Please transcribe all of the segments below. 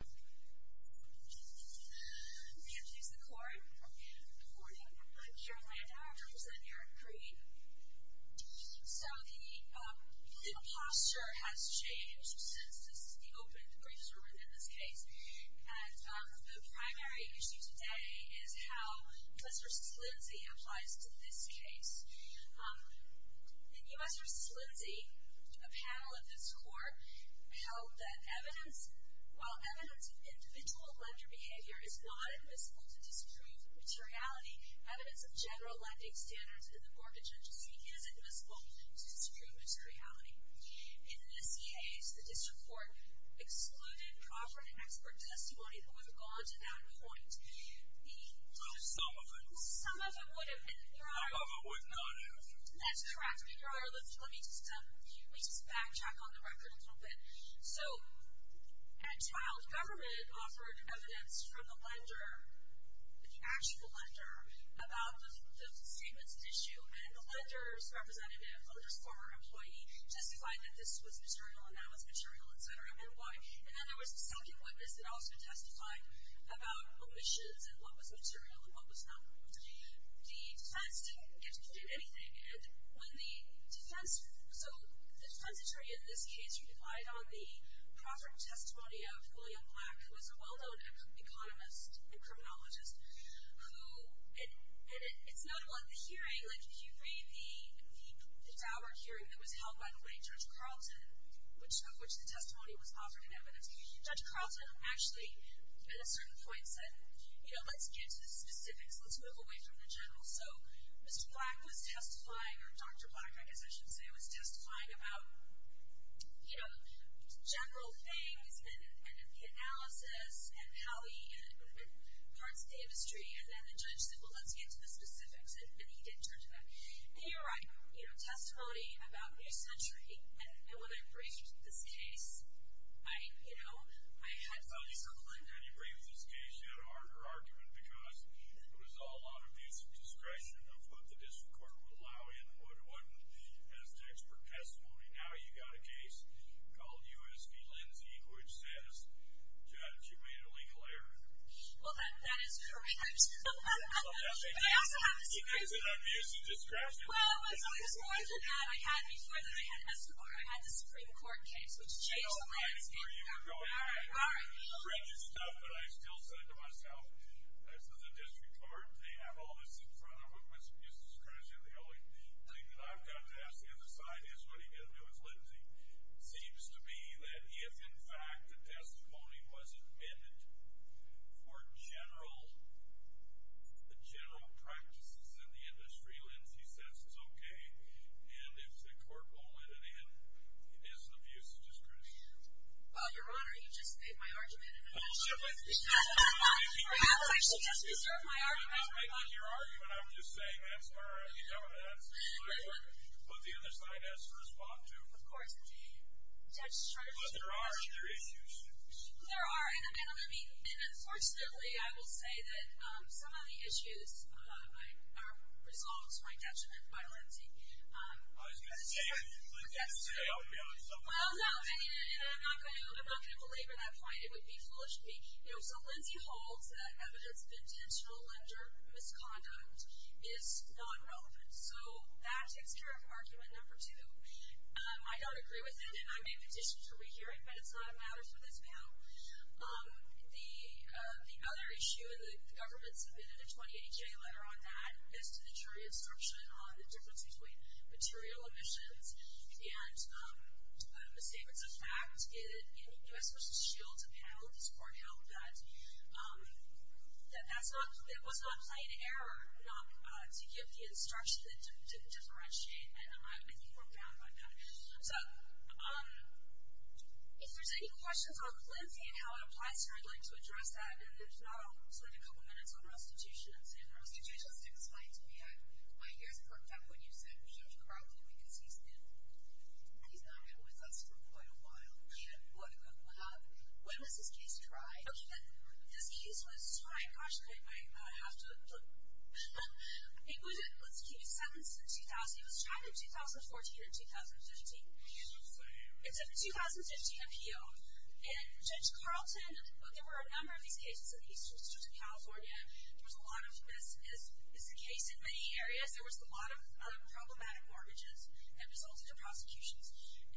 Introduce the court. Good morning. I'm Carol Landau. I represent Erik Green. So the posture has changed since the opening of the briefs were written in this case. And the primary issue today is how U.S. v. Lindsay applies to this case. In U.S. v. Lindsay, a panel of this court held that evidence, while evidence of individual lender behavior is not admissible to disprove materiality, evidence of general lending standards in the mortgage industry is admissible to disprove materiality. In this case, the district court excluded proper and expert testimony that would have gone to that point. Well, some of it would have. Some of it would not have. That's correct. Let me just backtrack on the record a little bit. So, at trial, government offered evidence from the lender, the actual lender, about the statements at issue. And the lender's representative, the lender's former employee, justified that this was material and that was material, etc. And then there was a second witness that also testified about omissions and what was material and what was not. The defense didn't get to do anything. So the defense attorney in this case relied on the proper testimony of William Black, who was a well-known economist and criminologist. And it's notable at the hearing, like if you read the Daubert hearing that was held, by the way, Judge Carlton, of which the testimony was offered in evidence, Judge Carlton actually, at a certain point, said, you know, let's get to the specifics. Let's move away from the general. So Mr. Black was testifying, or Dr. Black, I guess I should say, was testifying about, you know, general things and the analysis and how he, and parts of the industry. And then the judge said, well, let's get to the specifics. And he didn't turn to that. And you're right. You know, testimony about New Century. And when I briefed this case, I, you know, I had some discipline. When you briefed this case, you had a harder argument because it was all on abuse of discretion of what the district court would allow in and what wouldn't. As to expert testimony, now you've got a case called U.S. v. Lindsay, which says, Judge, you made a legal error. Well, that is correct. Well, that's a case that's on abuse of discretion. Well, it was more than that. I had, before that, I had an SMR. I had the Supreme Court case, which changed the landscape. I know. All right. All right. All right. All right. All right. All right. All right. All right. All right. All right. All right. All right. And I just wanted to ask, the other side is what are you going to do with Lindsay? It seems to be that if, in fact, the testimony was admitted for general practices in the industry, Lindsay says it's okay. And if the court won't let it in, it is an abuse of discretion. Your Honor, you just made my argument in an action. Well, simply because that's what I think you should do. That's why she deserves my argument. Well, you're not making my argument. It's not making my argument. It's making my argument. All right. But the other side has to respond to, of course, the judge's charge. But there are other issues. There are. And I mean, and unfortunately, I will say that some of the issues are resolved by judgment by Lindsay. Well, it's a good thing that Lindsay says she's going to be able to jump on this. Well, no. And I'm not going to belabor that point. It would be foolish of me. So Lindsay holds that evidence of intentional misconduct is not relevant. So that takes care of our case. So that's argument number two. I don't agree with it. And I made petitions for re-hearing. But it's not a matter for this panel. The other issue, and the government submitted a 2080-J letter on that as to the jury instruction on the difference between material omissions. And I'm going to say it's a fact. In U.S. v. Shields, a panel of these court held that that was not a plain error not to give the instruction to differentiate. And I think we're bound by that. So if there's any questions on Lindsay and how it applies to her, I'd like to address that. And there's not a whole slew of a couple minutes on prostitution. Could you just explain to me? My ears perked up when you said Judge Crockett, because he's not been with us for quite a while. He had more to go. When was this case tried? This case was tried, gosh, I have to look. It was, let's keep it sentenced in 2000. It was tried in 2014 and 2015. It's a 2015 appeal. And Judge Carlton, there were a number of these cases in the Eastern District of California. There was a lot of this. This is a case in many areas. There was a lot of problematic mortgages that resulted in prosecutions.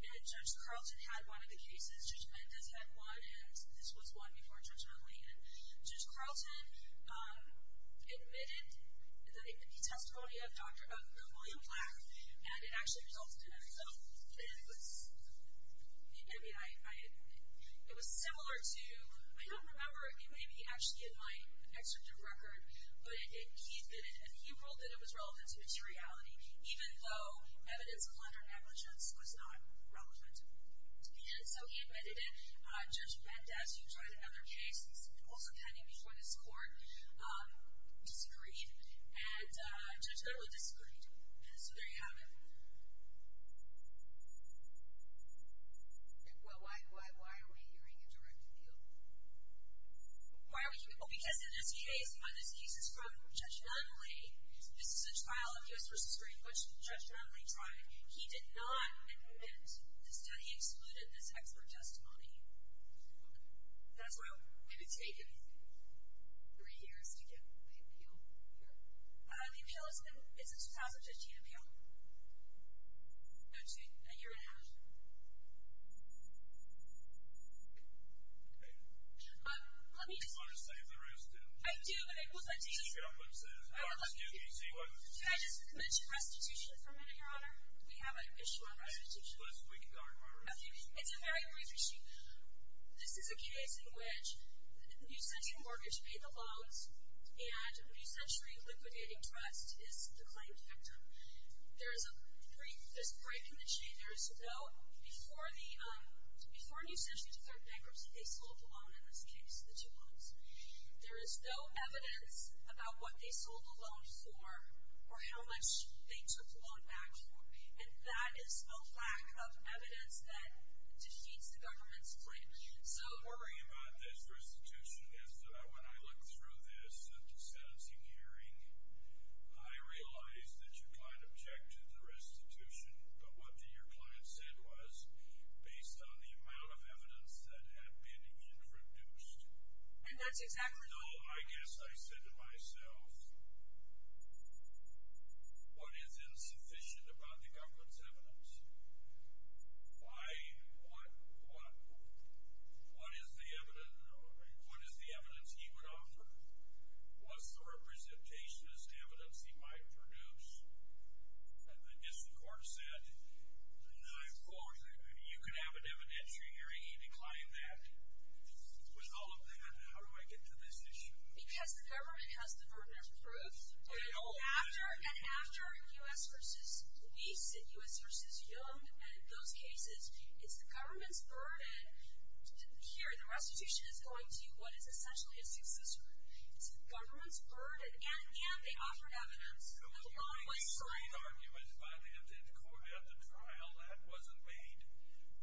And Judge Carlton had one of the cases. Judge Mendez had one, and this was one before Judge McLean. Judge Carlton admitted the testimony of Dr. William Black, and it actually resulted in an appeal. And it was, I mean, it was similar to, I don't remember, it may be actually in my executive record, but he admitted, and he ruled that it was relevant to materiality, even though evidence of under-negligence was not relevant. And so he admitted it. Judge Mendez, who tried another case, also pending before this court, disagreed. And Judge Goodwill disagreed. So there you have it. Well, why are we hearing a direct appeal? Why are we hearing, oh, because in this case, this case is from Judge Nunley. This is a trial of U.S. v. Green, which Judge Nunley tried. He did not admit that he excluded this expert testimony. Okay. That's why it would have taken three years to get the appeal here. The appeal is a 2015 appeal. No, a year and a half. Okay. Let me just... Do you want to save the rest, too? I do, but it was my decision. Keep it up, let's do it. I would love to keep it up. Can I just mention restitution for a minute, Your Honor? We have an issue on restitution. Okay. It's a very brief issue. This is a case in which New Century Mortgage paid the loans, and New Century Liquidating Trust is the claim victim. There is a brief... There's a break in the chain. There is no... Before the... Before New Century declared bankruptcy, they sold the loan in this case, the two loans. There is no evidence about what they sold the loan for or how much they took the loan back for. And that is a lack of evidence that defeats the government's claim. So... The thing about this restitution is that when I looked through this sentencing hearing, I realized that your client objected to the restitution. But what your client said was, based on the amount of evidence that had been introduced... And that's exactly what... No, I guess I said to myself, what is insufficient about the government's evidence? Why... What... What is the evidence... What is the evidence he would offer? What's the representationist evidence he might produce? And the district court said, no, of course, you can have an evidentiary hearing. He declined that. With all of that, how do I get to this issue? Because the government has the burden of proof. And after U.S. v. Weiss and U.S. v. Young and those cases, it's the government's burden... Here, the restitution is going to what is essentially a success group. It's the government's burden. And again, they offered evidence. The loan was sold... There was no concrete argument by the end court at the trial. That wasn't made.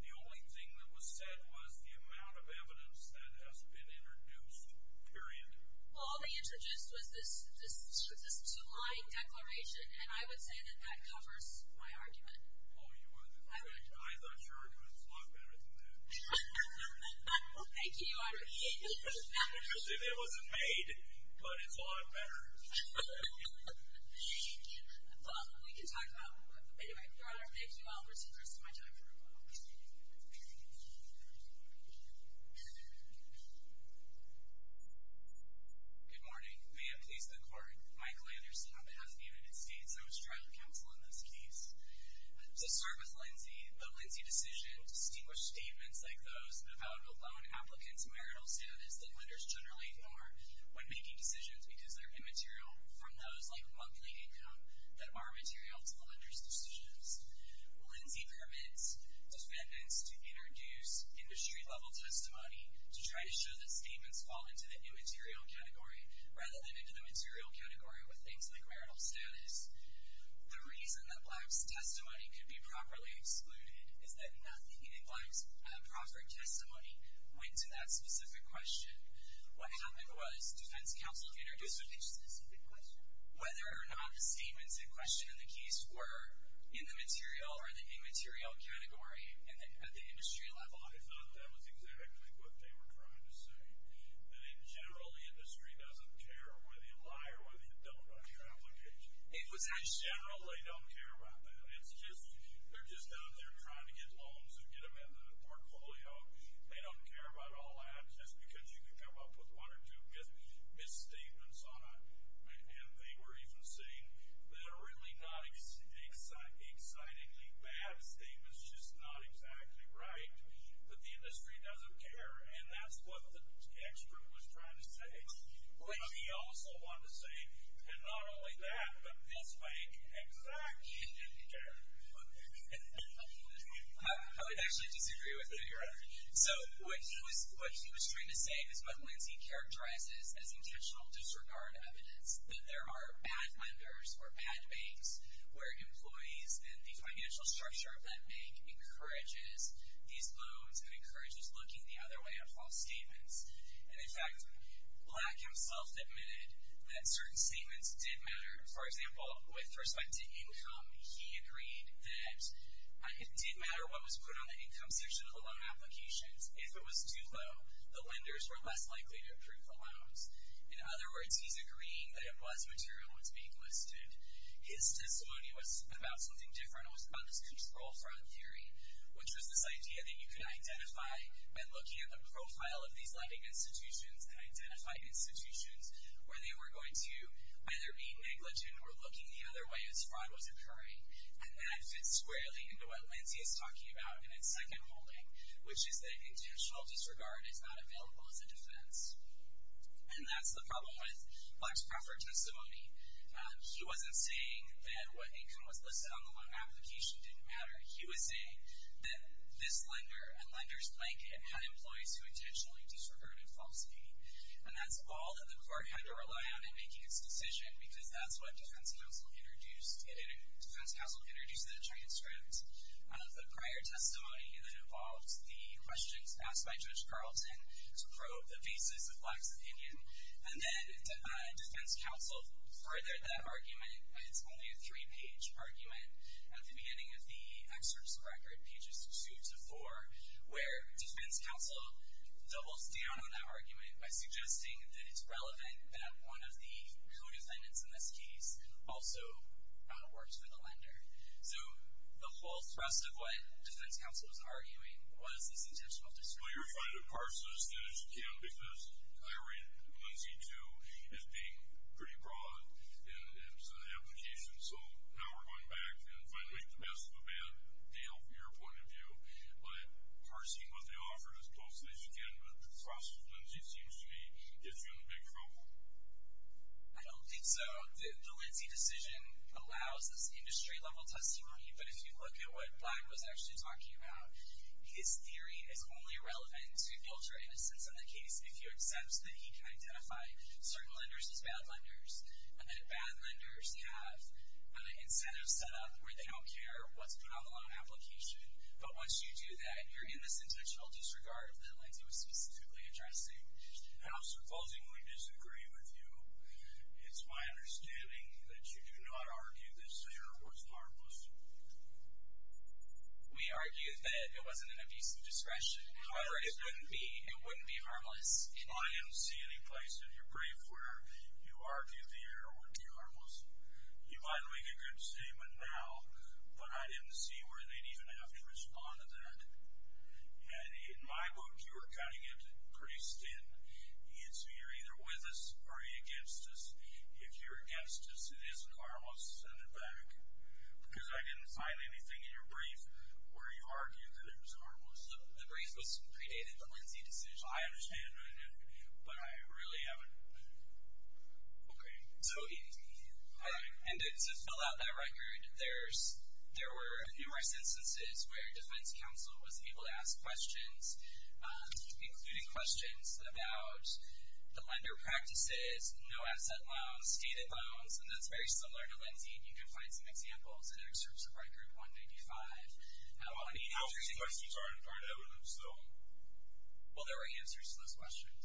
The only thing that was said was the amount of evidence that has been introduced, period. Well, all they introduced was this two-line declaration, and I would say that that covers my argument. Oh, you would? I would. I'm not sure, but it's a lot better than that. Thank you, Your Honor. It was made, but it's a lot better. Well, we can talk about... Anyway, Your Honor, thank you all for taking the rest of my time. Good morning. May it please the Court. Mike Landerson on behalf of the United States. I was trial counsel in this case. To start with Lindsay, the Lindsay decision distinguished statements like those about a loan applicant's marital status that lenders generally ignore when making decisions because they're immaterial from those like a monthly income that are material to the lender's decisions. Lindsay permits defendants to introduce industry-level testimony to try to show that statements fall into the immaterial category rather than into the material category with things like marital status. The reason that Black's testimony could be properly excluded is that nothing in Black's proper testimony went to that specific question. What happened was defense counsel introduced a specific question. Whether or not the statements in question in the case were in the material or the immaterial category at the industry level. I thought that was exactly what they were trying to say. That in general, the industry doesn't care whether you lie or whether you don't on your application. In general, they don't care about that. It's just, they're just out there trying to get loans and get them into the portfolio. They don't care about all that just because you can come up with one or two misstatements on it. And they were even saying that a really not excitingly bad statement is just not exactly right. That the industry doesn't care. And that's what the expert was trying to say. Which he also wanted to say, and not only that, but this bank exactly didn't care. I would actually disagree with it. So, what he was trying to say is what Lindsay characterizes as intentional disregard evidence. That there are bad lenders or bad banks where employees and the financial structure of that bank encourages these loans and encourages looking the other way at false statements. And in fact, Black himself admitted that certain statements did matter. For example, with respect to income, he agreed that it did matter what was put on the income section of the loan applications. If it was too low, the lenders were less likely to approve the loans. In other words, he's agreeing that it was material that's being listed. His testimony was about something different. It was about this control fraud theory. Which was this idea that you could identify by looking at the profile of these lending institutions and identify institutions where they were going to either be negligent or looking the other way as fraud was occurring. And that fits squarely into what Lindsay is talking about in its second holding. Which is that intentional disregard is not available as a defense. And that's the problem with Black's proffer testimony. He wasn't saying that what income was listed on the loan application didn't matter. He was saying that this lender and lenders like it had employees who intentionally disregarded false pay. And that's all that the court had to rely on in making its decision. Because that's what defense counsel introduced in a transcript. The prior testimony that involved the questions asked by Judge Carlton to probe the basis of Black's opinion. And then defense counsel furthered that argument. It's only a three-page argument. At the beginning of the excerpt's record, pages two to four, where defense counsel doubles down on that argument by suggesting that it's relevant that one of the co-defendants in this case also works for the lender. So the whole thrust of what defense counsel was arguing was this intentional disregard. Well, you're trying to parse this as good as you can. Because I read Lindsay too as being pretty broad. And it's an application. So now we're going back and trying to make the best of a bad deal from your point of view. But parsing what they offered as close as you can with the thrust of Lindsay seems to me gets you in big trouble. I don't think so. The Lindsay decision allows this industry-level testimony. But if you look at what Black was actually talking about, his theory is only relevant to filter innocence in the case if he accepts that he can identify certain lenders as bad lenders. And that bad lenders have incentives set up where they don't care what's put on the loan application. But once you do that, you're in this intentional disregard that Lindsay was specifically addressing. And I'll supposedly disagree with you. It's my understanding that you do not argue this error was harmless. We argued that it wasn't an abuse of discretion. However, it wouldn't be. It wouldn't be harmless. I didn't see any place in your brief where you argued the error wouldn't be harmless. You might make a good statement now, but I didn't see where they'd even have to respond to that. And in my book, you were cutting it pretty thin. You're either with us or you're against us. If you're against us, it isn't harmless. Send it back. Because I didn't find anything in your brief where you argued that it was harmless. The brief was predated the Lindsay decision. I understand, but I really haven't. Okay. And to fill out that record, there were numerous instances where Defense Counsel was able to ask questions, including questions about the lender practices, no-asset loans, stated loans, and that's very similar to Lindsay, and you can find some examples in excerpts of Record 195. How many answers did you get? Well, there were answers to those questions.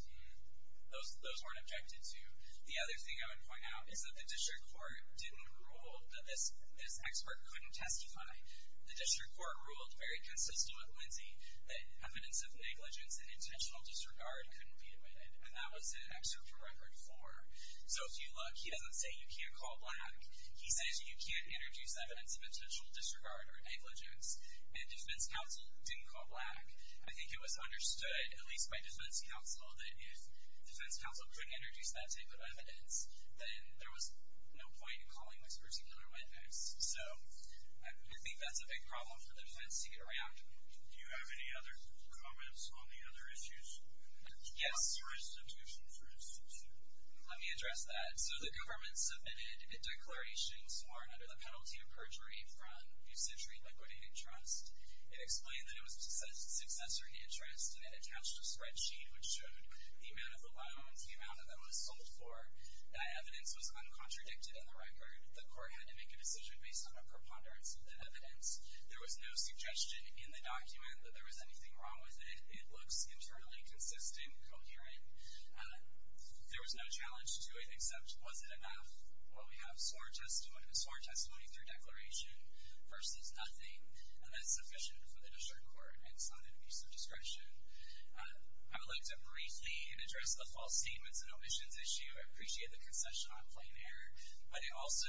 Those weren't objected to. The other thing I would point out is that the district court didn't rule that this expert couldn't testify. The district court ruled, very consistent with Lindsay, that evidence of negligence and intentional disregard couldn't be admitted, and that was in Excerpt from Record 4. So if you look, he doesn't say you can't call black. He says you can't introduce evidence of intentional disregard or negligence, and Defense Counsel didn't call black. I think it was understood, at least by Defense Counsel, that if Defense Counsel couldn't introduce that type of evidence, then there was no point in calling this person under witness. So I think that's a big problem for Defense to get around. Do you have any other comments on the other issues? Yes. Let me address that. So the government submitted a declaration sworn under the penalty of perjury from Bucetri Liquidating Trust. It explained that it was a successor interest, and it attached a spreadsheet which showed the amount of the loans, the amount that that was sold for. That evidence was uncontradicted in the record. The court had to make a decision based on a preponderance of that evidence. There was no suggestion in the document that there was anything wrong with it. It looks internally consistent, coherent. There was no challenge to it, except was it enough? Well, we have sworn testimony through declaration versus nothing, and that's sufficient for the district court. It's not an abuse of discretion. I would like to briefly address the false statements and omissions issue. I appreciate the concession on plain air. But it also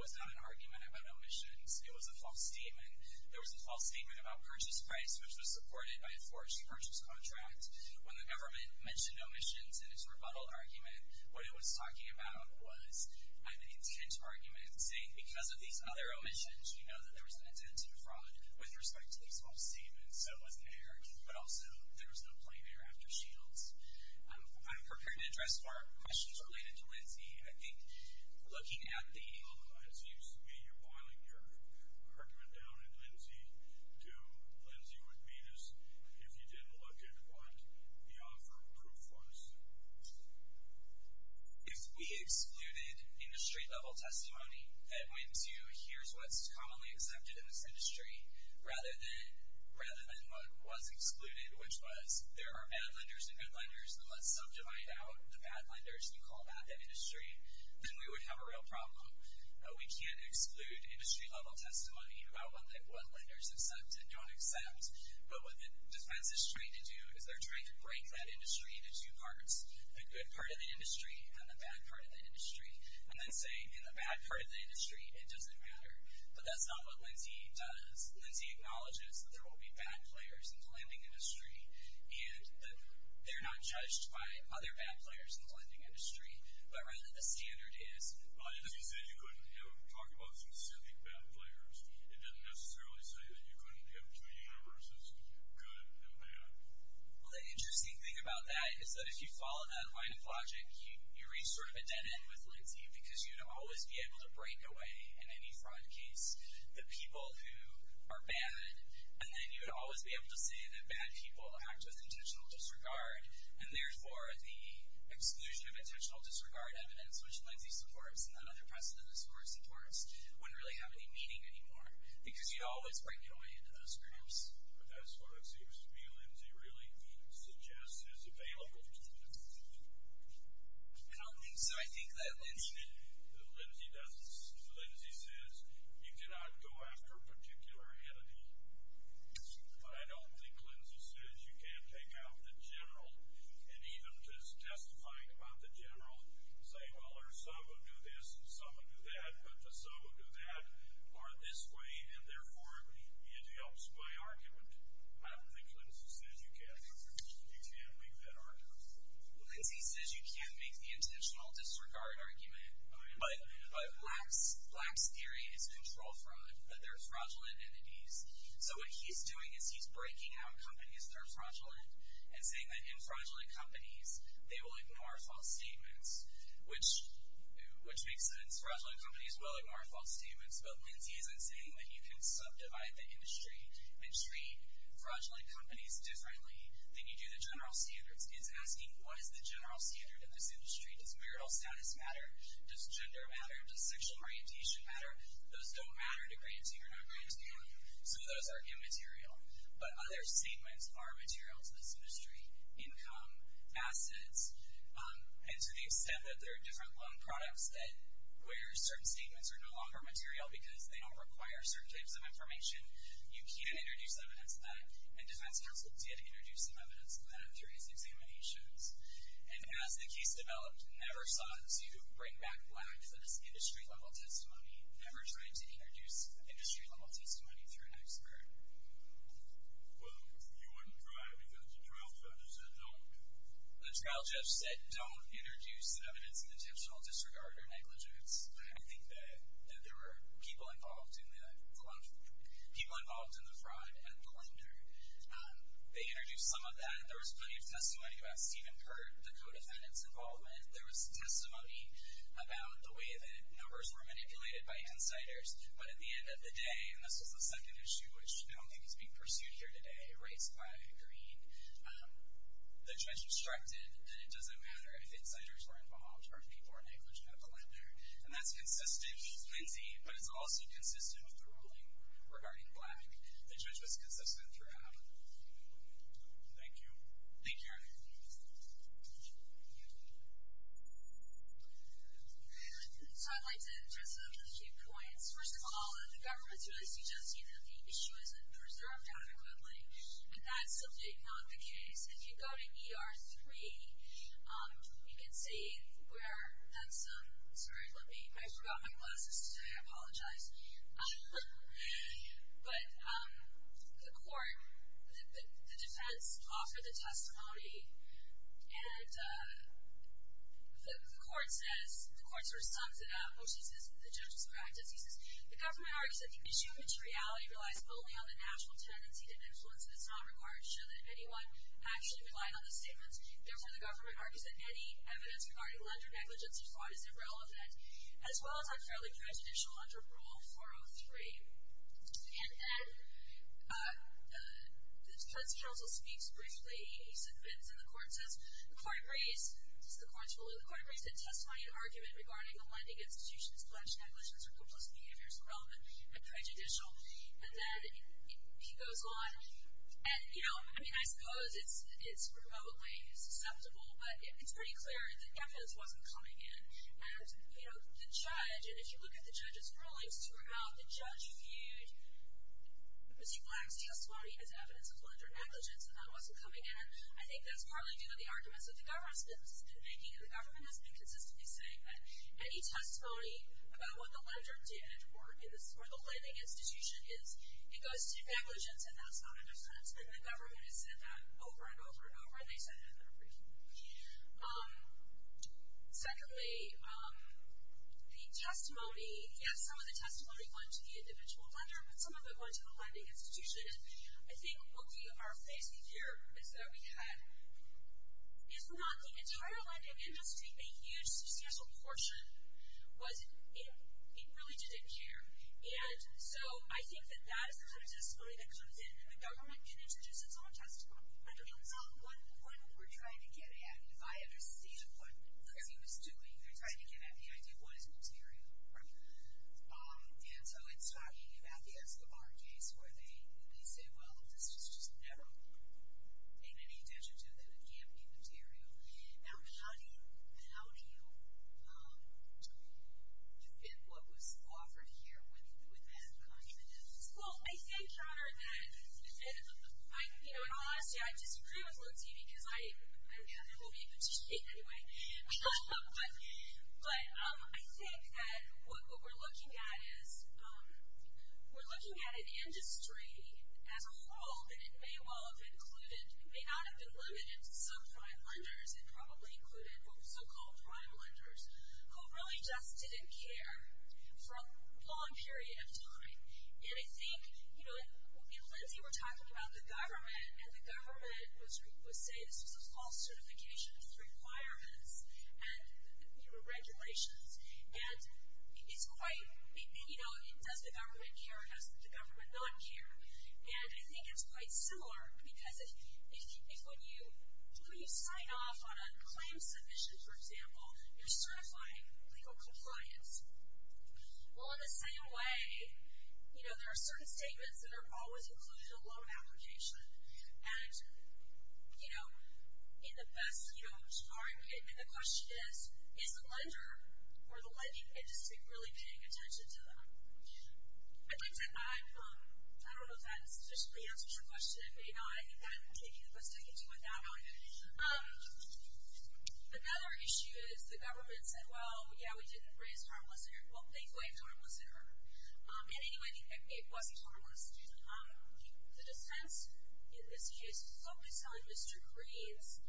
was not an argument about omissions. It was a false statement. There was a false statement about purchase price, which was supported by a forged purchase contract. When the government mentioned omissions in its rebuttal argument, what it was talking about was an intent argument, saying because of these other omissions, we know that there was an intent to defraud with respect to these false statements. So it wasn't an argument. But also, there was no plain air after Shields. I'm prepared to address more questions related to Lindsay. I think looking at the— It seems to me you're boiling your argument down, and Lindsay, do— Lindsay would meet us if you didn't look at what the offer of proof was. If we excluded industry-level testimony, and went to here's what's commonly accepted in this industry, rather than what was excluded, which was there are bad lenders and good lenders, and let's subdivide out the bad lenders and call back that industry, then we would have a real problem. We can't exclude industry-level testimony about what lenders accept and don't accept. But what the defense is trying to do is they're trying to break that industry into two parts, the good part of the industry and the bad part of the industry, and then say in the bad part of the industry, it doesn't matter. But that's not what Lindsay does. Lindsay acknowledges that there will be bad players in the lending industry, and that they're not judged by other bad players in the lending industry, but rather the standard is— If you say you couldn't talk about specific bad players, it doesn't necessarily say that you couldn't have two universes, good and bad. Well, the interesting thing about that is that if you follow that line of logic, you reach sort of a dead end with Lindsay, because you'd always be able to break away in any fraud case the people who are bad, and then you'd always be able to say that bad people act with intentional disregard, and therefore the exclusion of intentional disregard evidence, which Lindsay supports, and that other precedent this court supports, wouldn't really have any meaning anymore, because you'd always break away into those groups. But that's what it seems to me Lindsay really suggests is available to them. I don't think so. I think that Lindsay— Lindsay says you cannot go after a particular entity, but I don't think Lindsay says you can't take out the general, and even just testifying about the general, say, well, our so-and-so would do this, and so-and-so would do that, but the so-and-so would do that, or this way, and therefore it helps my argument. I don't think Lindsay says you can. You can make that argument. Lindsay says you can make the intentional disregard argument, but Black's theory is control fraud, that there are fraudulent entities, so what he's doing is he's breaking out companies that are fraudulent and saying that in fraudulent companies, they will ignore false statements, which makes sense. Fraudulent companies will ignore false statements, but Lindsay isn't saying that you can subdivide the industry and treat fraudulent companies differently than you do the general standards. He's asking, what is the general standard in this industry? Does marital status matter? Does gender matter? Does sexual orientation matter? Those don't matter to grantee or non-grantee, so those are immaterial, but other statements are material to this industry, income, assets, and to the extent that there are different loan products where certain statements are no longer material because they don't require certain types of information, you can't introduce evidence of that, and defense counsel did introduce some evidence of that through his examinations, and as the case developed, never sought to bring back Black for this industry-level testimony, never tried to introduce industry-level testimony through an expert. The trial judge said don't introduce evidence of intentional disregard or negligence. I think that there were people involved in the fraud and the slander. They introduced some of that, and there was plenty of testimony about Steven Peart, the co-defendant's involvement. There was testimony about the way that numbers were manipulated by insiders, but at the end of the day, and this was the second issue, which I don't think is being pursued here today, erased by Green, the judge obstructed that it doesn't matter if insiders were involved or if people were negligent of the slander, and that's consistent, Lindsay, but it's also consistent with the ruling regarding Black. The judge was consistent throughout. Thank you. Thank you, Eric. So I'd like to address a few points. First of all, the government's really suggesting that the issue isn't preserved adequately, and that's subject not the case. If you go to ER 3, you can see where that's, sorry, let me, I forgot my glasses. I apologize. But the court, the defense offered the testimony, and the court says, the court sort of sums it up, which is the judge's practice, he says, the government argues that the issue materiality relies only on the natural tendency to influence, and it's not required to show that anyone actually relied on the statements. Therefore, the government argues that any evidence regarding lender negligence or fraud is irrelevant, as well as unfairly prejudicial under Rule 403. And then the judge also speaks briefly. He submits, and the court says, the court agrees, this is the court's ruling, the court agrees that testimony and argument regarding the lending institution's pledge negligence or hopeless behavior is irrelevant and prejudicial. And then he goes on. And, you know, I mean, I suppose it's remotely susceptible, but it's pretty clear that evidence wasn't coming in. And, you know, the judge, and if you look at the judge's rulings throughout, the judge viewed Ms. E. Black's testimony as evidence of lender negligence, and that wasn't coming in. I think that's partly due to the arguments that the government has been making, and the government has been consistently saying that any testimony about what the lender did or the lending institution is, it goes to negligence, and that's not a defense. And the government has said that over and over and over, and they said it in their briefing. Secondly, the testimony, yes, some of the testimony went to the individual lender, but some of it went to the lending institution. And I think what we are facing here is that we had, if not the entire lending industry, I think a huge substantial portion was it really didn't care. And so I think that that is the kind of testimony that comes in, and the government can introduce its own testimony. I don't know. That's not one point that we're trying to get at. If I understand what he was doing, they're trying to get at the idea of what is material. Right. And so it's talking about the Escobar case where they say, well, this was just never in any digit of it, it can't be material. Now, how do you fit what was offered here with that confidence? Well, I think, Honor, that, you know, in all honesty, I disagree with Lutzi, because I don't know who he put to sleep anyway. But I think that what we're looking at is we're looking at an industry as a whole, and it may well have included, it may not have been limited to some prime lenders, it probably included so-called prime lenders, who really just didn't care for a long period of time. And I think, you know, in Lutzi we're talking about the government, and the government was saying this was a false certification of requirements and, you know, regulations. And it's quite, you know, does the government care, does the government not care? And I think it's quite similar, because if when you sign off on a claim submission, for example, you're certifying legal compliance. Well, in the same way, you know, there are certain statements that are always included in a loan application. And, you know, in the best, you know, and the question is, is the lender or the lending industry really paying attention to them? I think that I'm, I don't know if that sufficiently answers your question. It may not. I think that I'm taking the best I can do with that one. Another issue is the government said, well, yeah, we didn't raise harmless and hurt. Well, thankfully, harmless and hurt. And anyway, it wasn't harmless. The defense in this case focused on Mr. Green's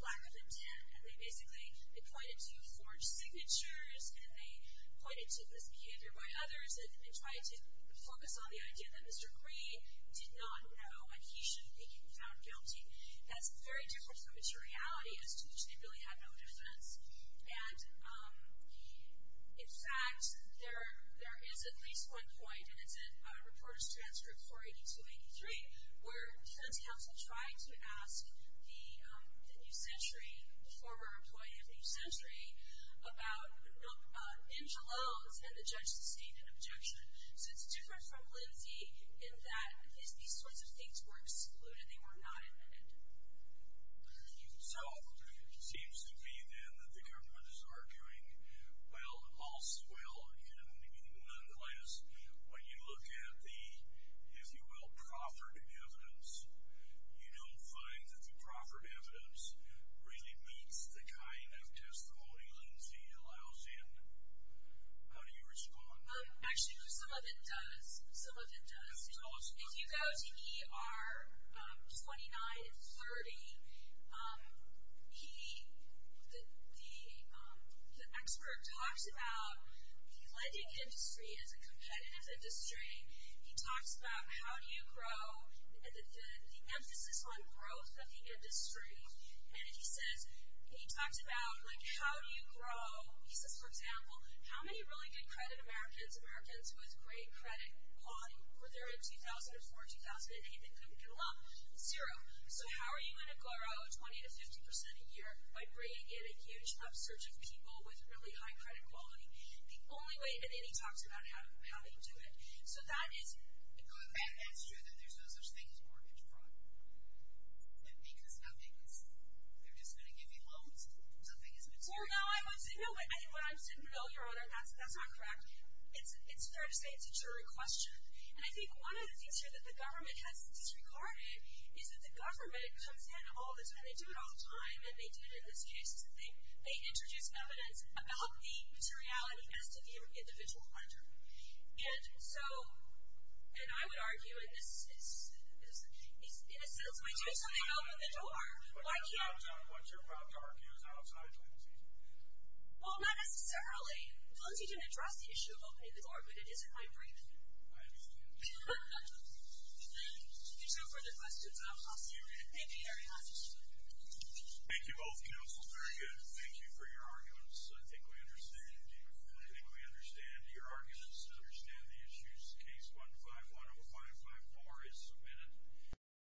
lack of intent, and they basically, they pointed to forged signatures, and they pointed to misbehavior by others, and they tried to focus on the idea that Mr. Green did not know, and he shouldn't be found guilty. That's very different from the true reality as to which they really had no defense. And, in fact, there is at least one point, and it's in Reporters' Transcript 482-83, where defense counsel tried to ask the new century, the former employee of the new century, about Angelone's and the judge's statement of objection. So it's different from Lindsay in that these sorts of things were excluded. They were not amended. So it seems to me, then, that the government is arguing, well, also, well, and nonetheless, when you look at the, if you will, proffered evidence, you don't find that the proffered evidence really meets the kind of testimony Lindsay allows in. How do you respond? Actually, some of it does. Some of it does. Tell us about it. If you go to ER 2930, the expert talks about the lending industry as a competitive industry. He talks about how do you grow and the emphasis on growth of the industry. And he says, he talks about, like, how do you grow, he says, for example, how many really good credit Americans, Americans with great credit quality, were there in 2004, 2008, and couldn't get along? Zero. So how are you going to grow 20 to 50% a year by bringing in a huge upsurge of people with really high credit quality? The only way, and then he talks about how they do it. So that is. But that's true that there's no such thing as mortgage fraud. And because nothing is, they're just going to give you loans, something is material. Well, no, I would say, no, but I think what I'm saying, no, Your Honor, that's not correct. It's fair to say it's a true question. And I think one of the things here that the government has disregarded is that the government comes in all the time, they do it all the time, and they do it in this case, is that they introduce evidence about the materiality as to the individual lender. And so, and I would argue in this, in a sense, by doing something to open the door, why can't you? But that's not what you're about to argue is outside policy. Well, not necessarily. Policy didn't address the issue of opening the door, but it is in my brain. I agree with you. If you have no further questions, I'll pause here. Thank you, Your Honor. Thank you both counsels. Very good. Thank you for your arguments. I think we understand your arguments and understand the issues. Case 15-10554 is submitted.